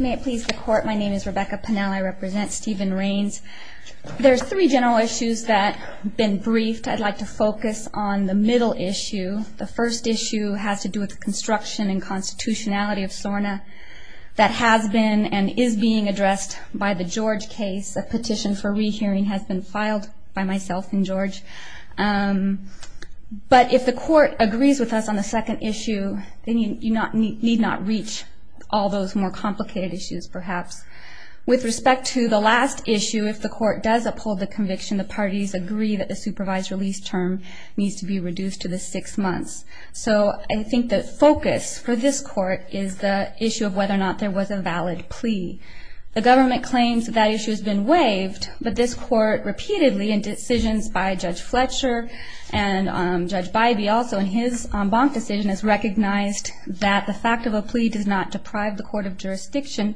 May it please the court, my name is Rebecca Pennell. I represent Steven Ranes. There's three general issues that have been briefed. I'd like to focus on the middle issue. The first issue has to do with the construction and constitutionality of SORNA that has been and is being addressed by the George case. A petition for re-hearing has been filed by myself and George. But if the court agrees with us on the second issue, then you need not reach all those more complicated issues perhaps. With respect to the last issue, if the court does uphold the conviction, the parties agree that the supervised release term needs to be reduced to the six months. So I think the focus for this court is the issue of whether or not there was a valid plea. The government claims that that issue has been waived, but this court repeatedly in decisions by Judge Fletcher and Judge Bybee also, in his bonk decision, has recognized that the fact of a plea does not deprive the court of jurisdiction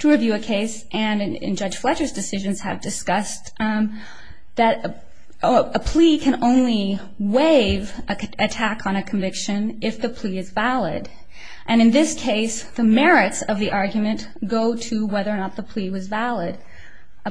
to review a case. And in Judge Fletcher's decisions have discussed that a plea can only waive an attack on a conviction if the plea is valid. And in this case, the merits of the argument go to whether or not the plea was valid.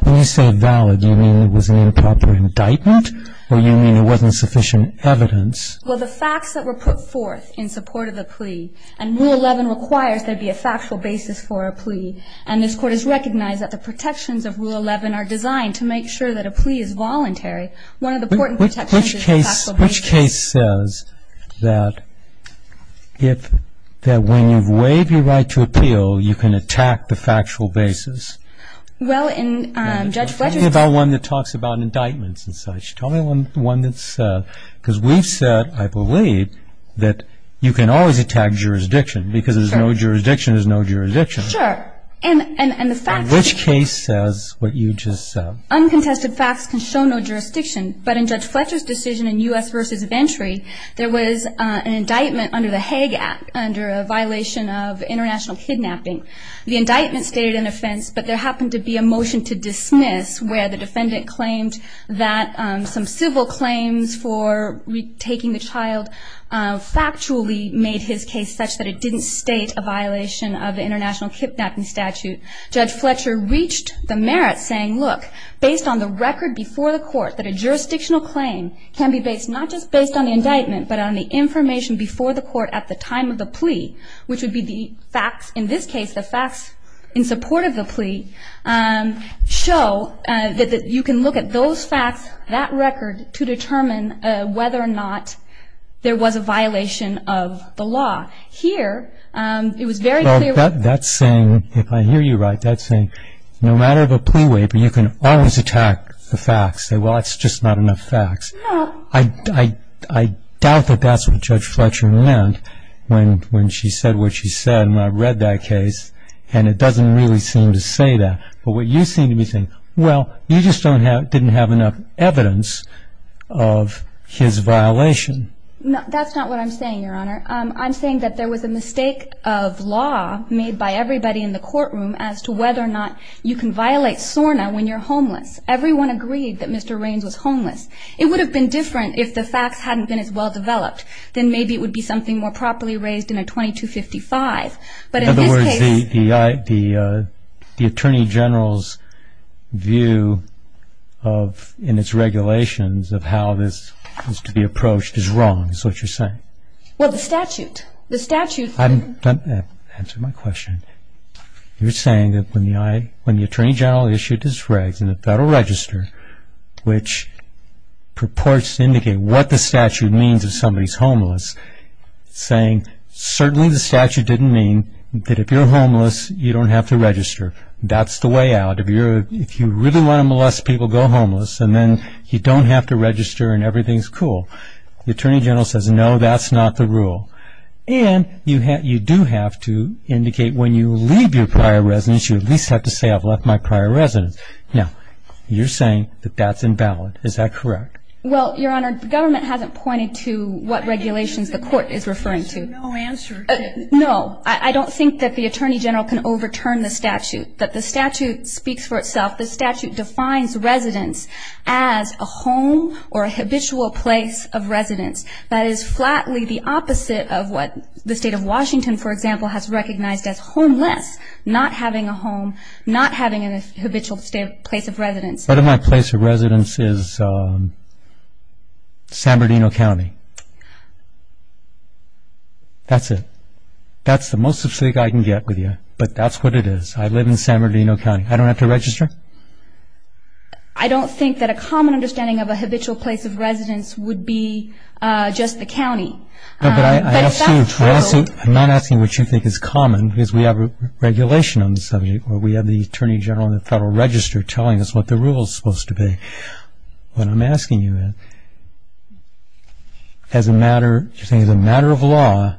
When you say valid, do you mean it was an improper indictment or do you mean it wasn't sufficient evidence? Well, the facts that were put forth in support of the plea, and Rule 11 requires there be a factual basis for a plea, and this court has recognized that the protections of Rule 11 are designed to make sure that a plea is voluntary. One of the important protections is the factual basis. Which case says that when you've waived your right to appeal, you can attack the factual basis? Well, in Judge Fletcher's case- Tell me about one that talks about indictments and such. Tell me one that's- because we've said, I believe, that you can always attack jurisdiction, because there's no jurisdiction is no jurisdiction. Sure. And the facts- Which case says what you just said? Uncontested facts can show no jurisdiction, but in Judge Fletcher's decision in U.S. versus Venturi, there was an indictment under the Hague Act under a violation of international kidnapping. The indictment stated an offense, but there happened to be a motion to dismiss where the defendant claimed that some civil claims for retaking the child factually made his case such that it didn't state a violation of international kidnapping statute. Judge Fletcher reached the merit saying, look, based on the record before the court, that a jurisdictional claim can be based not just based on the indictment, but on the information before the court at the time of the plea, which would be the facts- that you can look at those facts, that record, to determine whether or not there was a violation of the law. Here, it was very clear- Well, that's saying, if I hear you right, that's saying no matter the plea waiver, you can always attack the facts and say, well, that's just not enough facts. No. I doubt that that's what Judge Fletcher meant when she said what she said when I read that case, and it doesn't really seem to say that. But what you seem to be saying, well, you just didn't have enough evidence of his violation. That's not what I'm saying, Your Honor. I'm saying that there was a mistake of law made by everybody in the courtroom as to whether or not you can violate SORNA when you're homeless. Everyone agreed that Mr. Raines was homeless. It would have been different if the facts hadn't been as well-developed. Then maybe it would be something more properly raised in a 2255. But in this case- In other words, the Attorney General's view in its regulations of how this is to be approached is wrong, is what you're saying. Well, the statute. The statute- Answer my question. You're saying that when the Attorney General issued his regs in the Federal Register, which purports to indicate what the statute means if somebody's homeless, saying, certainly the statute didn't mean that if you're homeless, you don't have to register. That's the way out. If you really want to molest people, go homeless, and then you don't have to register and everything's cool. The Attorney General says, no, that's not the rule. And you do have to indicate when you leave your prior residence, you at least have to say, I've left my prior residence. Now, you're saying that that's invalid. Is that correct? Well, Your Honor, the government hasn't pointed to what regulations the court is referring to. There's no answer to that. No. I don't think that the Attorney General can overturn the statute, that the statute speaks for itself. The statute defines residence as a home or a habitual place of residence. That is flatly the opposite of what the State of Washington, for example, has recognized as homeless, not having a home, not having a habitual place of residence. What if my place of residence is San Bernardino County? That's it. That's the most specific I can get with you, but that's what it is. I live in San Bernardino County. I don't have to register? I don't think that a common understanding of a habitual place of residence would be just the county. No, but I'm not asking what you think is common, because we have a regulation on the subject, or we have the Attorney General in the Federal Register telling us what the rule is supposed to be. What I'm asking you is, as a matter of law,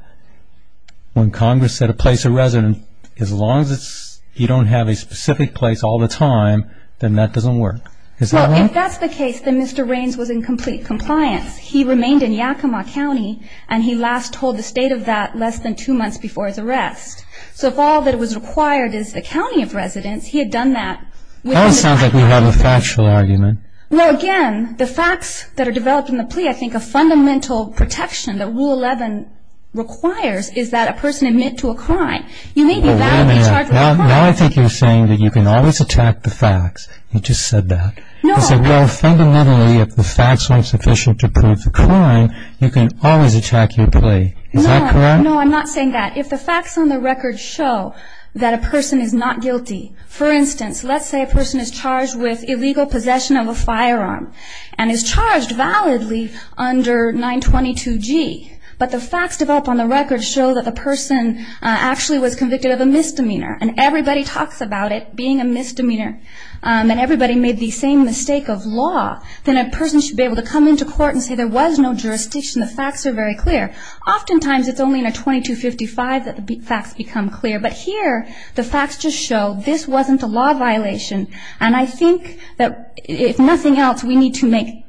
when Congress set a place of residence, as long as you don't have a specific place all the time, then that doesn't work. Is that right? Well, if that's the case, then Mr. Raines was in complete compliance. He remained in Yakima County, and he last told the State of that less than two months before his arrest. So if all that was required is the county of residence, he had done that. That sounds like we have a factual argument. Well, again, the facts that are developed in the plea, I think a fundamental protection that Rule 11 requires is that a person admit to a crime. You may be validly charged with a crime. Now I think you're saying that you can always attack the facts. You just said that. No, I'm not. You said, well, fundamentally, if the facts aren't sufficient to prove the crime, you can always attack your plea. Is that correct? No, I'm not saying that. If the facts on the record show that a person is not guilty, for instance, let's say a person is charged with illegal possession of a firearm and is charged validly under 922G, but the facts developed on the record show that the person actually was convicted of a misdemeanor, and everybody talks about it being a misdemeanor, and everybody made the same mistake of law, then a person should be able to come into court and say there was no jurisdiction. The facts are very clear. Oftentimes it's only in a 2255 that the facts become clear. But here the facts just show this wasn't a law violation, and I think that if nothing else we need to make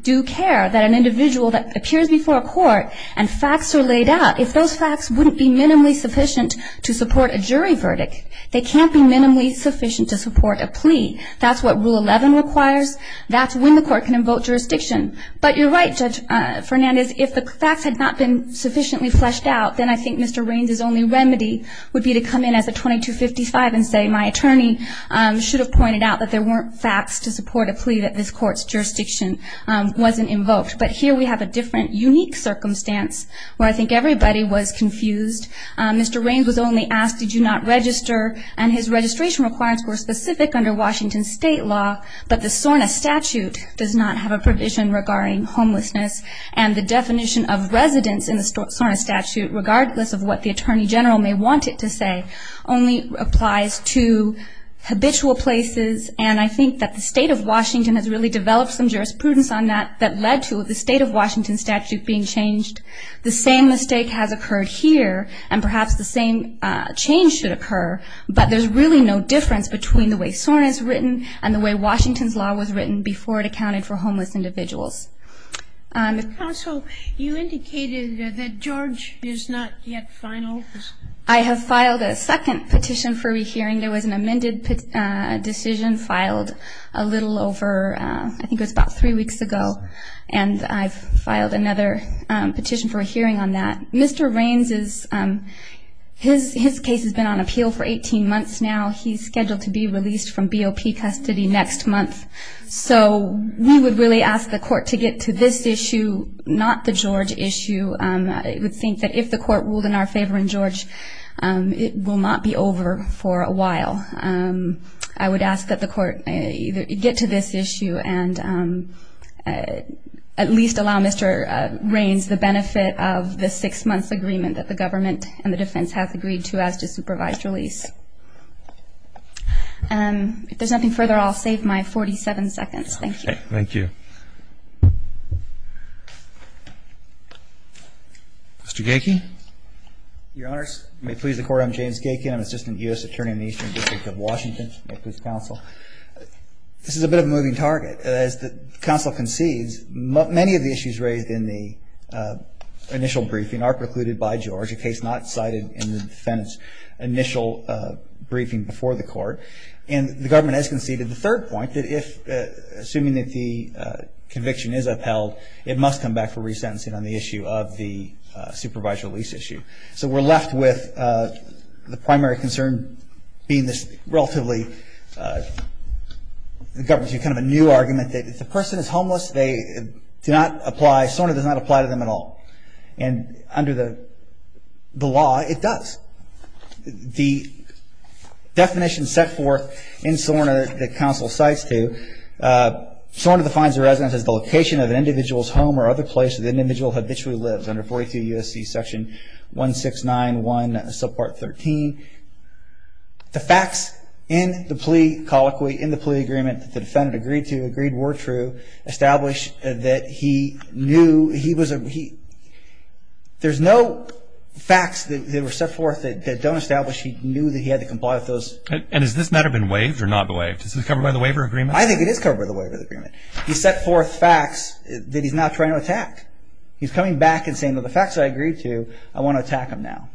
due care that an individual that appears before a court and facts are laid out, if those facts wouldn't be minimally sufficient to support a jury verdict, they can't be minimally sufficient to support a plea. That's what Rule 11 requires. That's when the court can invoke jurisdiction. But you're right, Judge Fernandez, if the facts had not been sufficiently fleshed out, then I think Mr. Raines's only remedy would be to come in as a 2255 and say my attorney should have pointed out that there weren't facts to support a plea, that this court's jurisdiction wasn't invoked. But here we have a different, unique circumstance where I think everybody was confused. Mr. Raines was only asked, did you not register, and his registration requirements were specific under Washington state law, but the SORNA statute does not have a provision regarding homelessness, and the definition of residence in the SORNA statute, regardless of what the attorney general may want it to say, only applies to habitual places, and I think that the state of Washington has really developed some jurisprudence on that that led to the state of Washington statute being changed. The same mistake has occurred here, and perhaps the same change should occur, but there's really no difference between the way SORNA is written and the way Washington's law was written before it accounted for homeless individuals. Counsel, you indicated that George is not yet final. I have filed a second petition for rehearing. There was an amended decision filed a little over, I think it was about three weeks ago, and I've filed another petition for a hearing on that. Mr. Raines, his case has been on appeal for 18 months now. He's scheduled to be released from BOP custody next month, so we would really ask the court to get to this issue, not the George issue. I would think that if the court ruled in our favor in George, it will not be over for a while. I would ask that the court get to this issue and at least allow Mr. Raines the benefit of the six-month agreement that the government and the defense have agreed to as to supervised release. If there's nothing further, I'll save my 47 seconds. Thank you. Thank you. Mr. Gackey? Your Honors, may it please the Court, I'm James Gackey. I'm Assistant U.S. Attorney in the Eastern District of Washington. This is a bit of a moving target. As the counsel concedes, many of the issues raised in the initial briefing are precluded by George, a case not cited in the defendant's initial briefing before the court. And the government has conceded the third point, that assuming that the conviction is upheld, it must come back for resentencing on the issue of the supervised release issue. So we're left with the primary concern being this relatively new argument that if the person is homeless, they do not apply, SORNA does not apply to them at all. And under the law, it does. The definition set forth in SORNA that counsel cites to, SORNA defines a residence as the location of an individual's home or other place that the individual habitually lives under 42 U.S.C. section 1691 subpart 13. The facts in the plea colloquy, in the plea agreement that the defendant agreed to, agreed were true, established that he knew he was a, there's no facts that were set forth that don't establish he knew that he had to comply with those. And has this matter been waived or not waived? Is this covered by the waiver agreement? I think it is covered by the waiver agreement. He set forth facts that he's not trying to attack. He's coming back and saying, well, the facts I agreed to, I want to attack them now.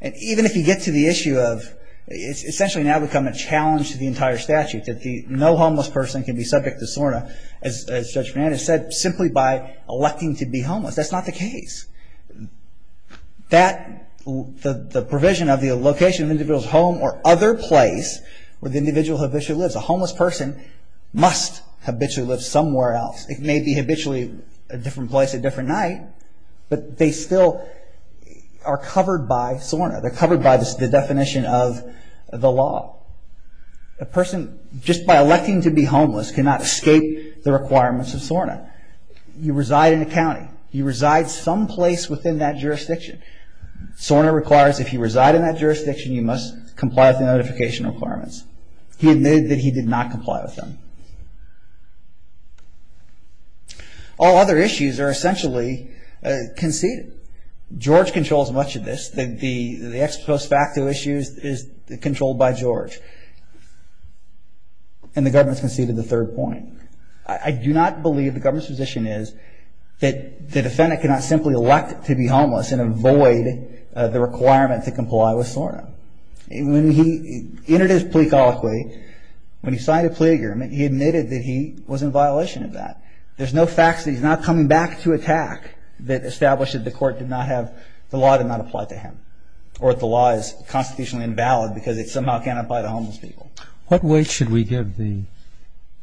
And even if you get to the issue of, it's essentially now become a challenge to the entire statute, that no homeless person can be subject to SORNA, as Judge Fernandez said, simply by electing to be homeless. That's not the case. That, the provision of the location of an individual's home or other place where the individual habitually lives, a homeless person must habitually live somewhere else. It may be habitually a different place at a different night, but they still are covered by SORNA. They're covered by the definition of the law. A person, just by electing to be homeless, cannot escape the requirements of SORNA. You reside in a county. You reside someplace within that jurisdiction. SORNA requires if you reside in that jurisdiction, you must comply with the notification requirements. He admitted that he did not comply with them. All other issues are essentially conceded. George controls much of this. The ex post facto issues is controlled by George. And the government has conceded the third point. I do not believe the government's position is that the defendant cannot simply elect to be homeless and avoid the requirement to comply with SORNA. In his plea colloquy, when he signed a plea agreement, he admitted that he was in violation of that. There's no facts that he's not coming back to attack that establish that the court did not have, the law did not apply to him, or that the law is constitutionally invalid because it somehow cannot apply to homeless people. What weight should we give the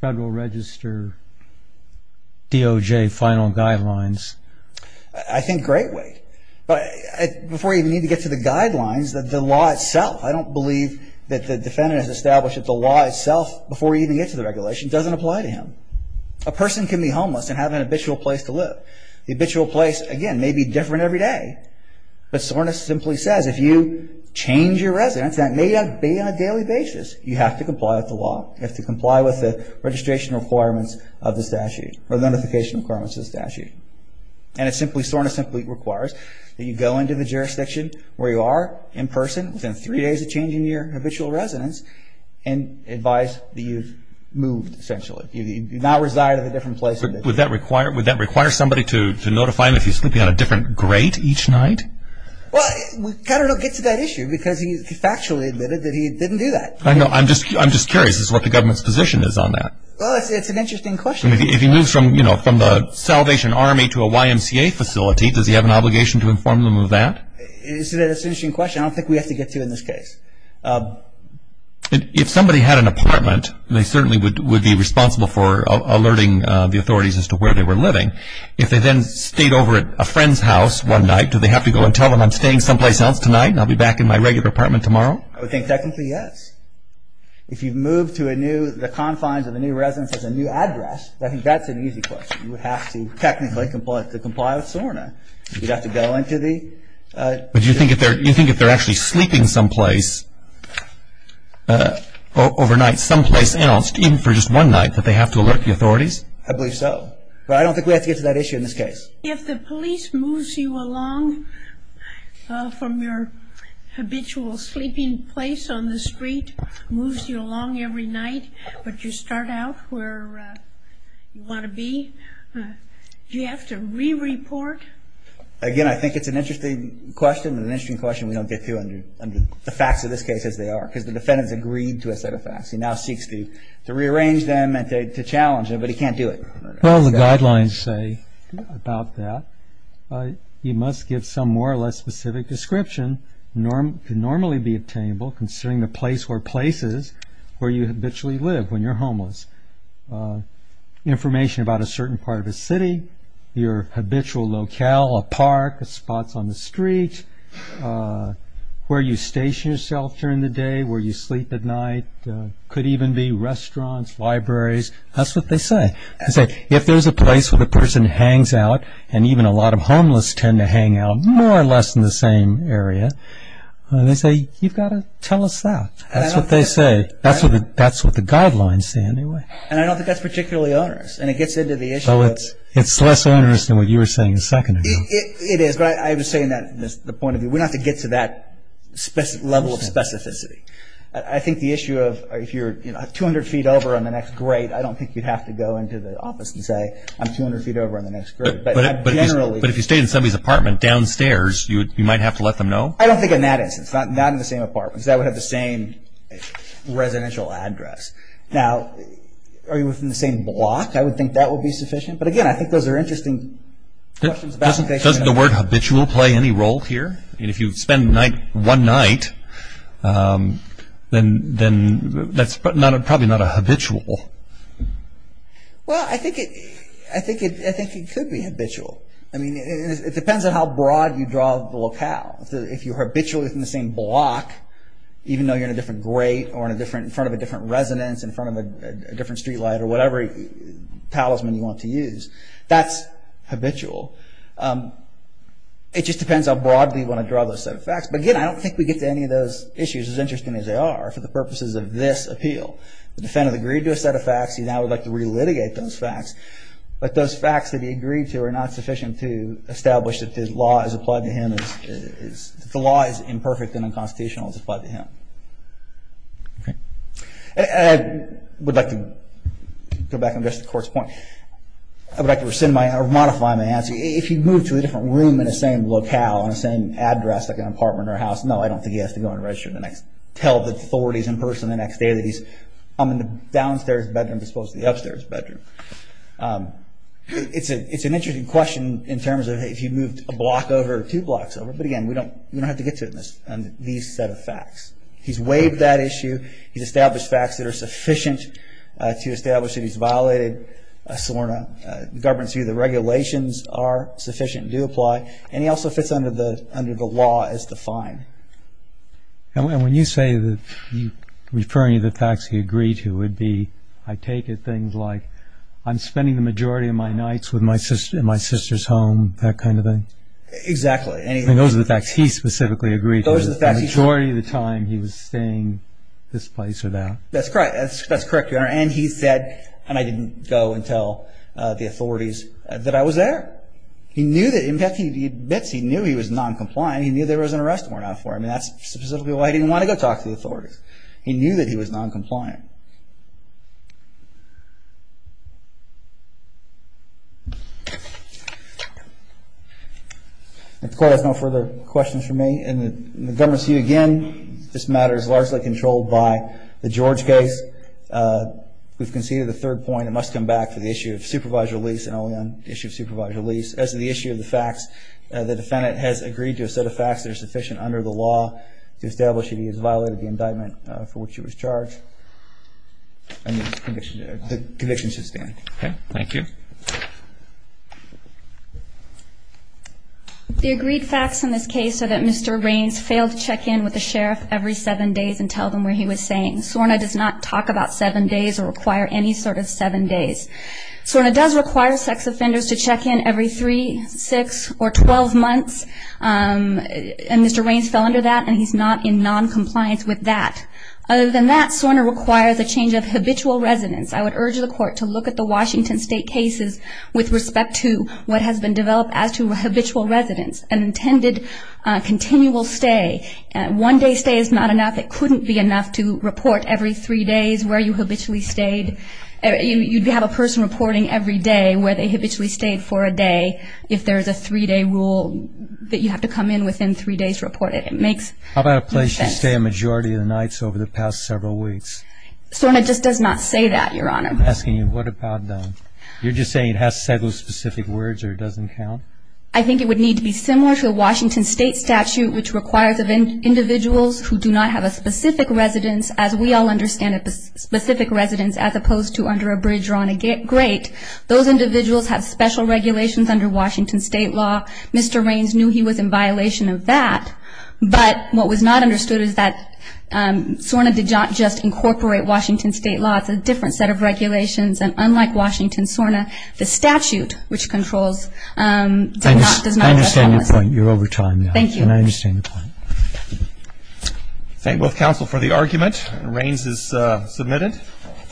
Federal Register DOJ final guidelines? I think great weight. Before you even get to the guidelines, the law itself, I don't believe that the defendant has established that the law itself, before you even get to the regulation, doesn't apply to him. A person can be homeless and have an habitual place to live. The habitual place, again, may be different every day. But SORNA simply says if you change your residence, that may not be on a daily basis. You have to comply with the law. You have to comply with the registration requirements of the statute, or the notification requirements of the statute. And SORNA simply requires that you go into the jurisdiction where you are, in person, within three days of changing your habitual residence, and advise that you've moved, essentially. You do not reside in a different place. Would that require somebody to notify him if he's sleeping on a different grate each night? Well, we kind of don't get to that issue because he factually admitted that he didn't do that. I know. I'm just curious as to what the government's position is on that. Well, it's an interesting question. If he moves from the Salvation Army to a YMCA facility, does he have an obligation to inform them of that? It's an interesting question. I don't think we have to get to it in this case. If somebody had an apartment, they certainly would be responsible for alerting the authorities as to where they were living. If they then stayed over at a friend's house one night, do they have to go and tell them, I'm staying someplace else tonight and I'll be back in my regular apartment tomorrow? I would think technically, yes. If you move to the confines of a new residence at a new address, I think that's an easy question. You would have to technically comply with SORNA. You'd have to go into the... But do you think if they're actually sleeping someplace overnight, someplace else, even for just one night, that they have to alert the authorities? I believe so. But I don't think we have to get to that issue in this case. If the police moves you along from your habitual sleeping place on the street, moves you along every night, but you start out where you want to be, do you have to re-report? Again, I think it's an interesting question, and an interesting question we don't get to under the facts of this case as they are, because the defendant's agreed to a set of facts. He now seeks to rearrange them and to challenge them, but he can't do it. Well, the guidelines say about that, you must give some more or less specific description. It can normally be obtainable, considering the place or places where you habitually live when you're homeless. Information about a certain part of a city, your habitual locale, a park, spots on the street, where you station yourself during the day, where you sleep at night. It could even be restaurants, libraries. That's what they say. They say, if there's a place where the person hangs out, and even a lot of homeless tend to hang out more or less in the same area, they say, you've got to tell us that. That's what they say. That's what the guidelines say anyway. And I don't think that's particularly onerous, and it gets into the issue of... It's less onerous than what you were saying a second ago. It is, but I was saying that from the point of view, we don't have to get to that level of specificity. I think the issue of, if you're 200 feet over on the next grade, I don't think you'd have to go into the office and say, I'm 200 feet over on the next grade. But if you stay in somebody's apartment downstairs, you might have to let them know? I don't think in that instance. Not in the same apartment, because that would have the same residential address. Now, are you within the same block? I would think that would be sufficient. But again, I think those are interesting questions about... Doesn't the word habitual play any role here? I mean, if you spend one night, then that's probably not a habitual. Well, I think it could be habitual. I mean, it depends on how broad you draw the locale. If you're habitually within the same block, even though you're in a different grade or in front of a different residence, in front of a different street light or whatever talisman you want to use, that's habitual. It just depends how broadly you want to draw those set of facts. But again, I don't think we get to any of those issues as interesting as they are for the purposes of this appeal. The defendant agreed to a set of facts. He now would like to re-litigate those facts. But those facts that he agreed to are not sufficient to establish that the law is imperfect and unconstitutional as applied to him. I would like to go back on just the court's point. I would like to modify my answer. If he moved to a different room in the same locale, in the same address, like an apartment or a house, no, I don't think he has to go and tell the authorities in person the next day that he's in the downstairs bedroom as opposed to the upstairs bedroom. It's an interesting question in terms of if he moved a block over or two blocks over. But again, we don't have to get to these set of facts. He's waived that issue. He's established facts that are sufficient to establish that he's violated the government's view that regulations are sufficient and do apply, and he also fits under the law as defined. And when you say that you're referring to the facts he agreed to, it would be, I take it, things like, I'm spending the majority of my nights in my sister's home, that kind of thing? Exactly. And those are the facts he specifically agreed to. The majority of the time he was staying this place or that. That's correct, Your Honor. And he said, and I didn't go and tell the authorities that I was there. In fact, he admits he knew he was noncompliant. He knew there was an arrest warrant out for him, and that's specifically why he didn't want to go talk to the authorities. He knew that he was noncompliant. If the Court has no further questions for me and the government's view, again, this matter is largely controlled by the George case. We've conceded the third point. It must come back to the issue of supervised release and only on the issue of supervised release. As to the issue of the facts, the defendant has agreed to a set of facts that are sufficient under the law to establish that he has violated the indictment for which he was charged. And the conviction should stand. Okay. Thank you. The agreed facts in this case are that Mr. Raines failed to check in with the sheriff every seven days and tell them what he was saying. SORNA does not talk about seven days or require any sort of seven days. SORNA does require sex offenders to check in every three, six, or 12 months, and Mr. Raines fell under that, and he's not in noncompliance with that. Other than that, SORNA requires a change of habitual residence. I would urge the Court to look at the Washington State cases with respect to what has been developed as to habitual residence and intended continual stay. One-day stay is not enough. It couldn't be enough to report every three days where you habitually stayed. You'd have a person reporting every day where they habitually stayed for a day if there is a three-day rule that you have to come in within three days to report it. It makes no sense. How about a place to stay a majority of the nights over the past several weeks? SORNA just does not say that, Your Honor. I'm asking you, what about them? You're just saying it has to say those specific words or it doesn't count? I think it would need to be similar to a Washington State statute which requires of individuals who do not have a specific residence, as we all understand a specific residence as opposed to under a bridge or on a grate. Those individuals have special regulations under Washington State law. Mr. Raines knew he was in violation of that, but what was not understood is that SORNA did not just incorporate Washington State law. It's a different set of regulations, and unlike Washington SORNA, the statute which controls does not address all of this. I understand your point. You're over time, Your Honor. Thank you. And I understand your point. Thank both counsel for the argument. Raines is submitted.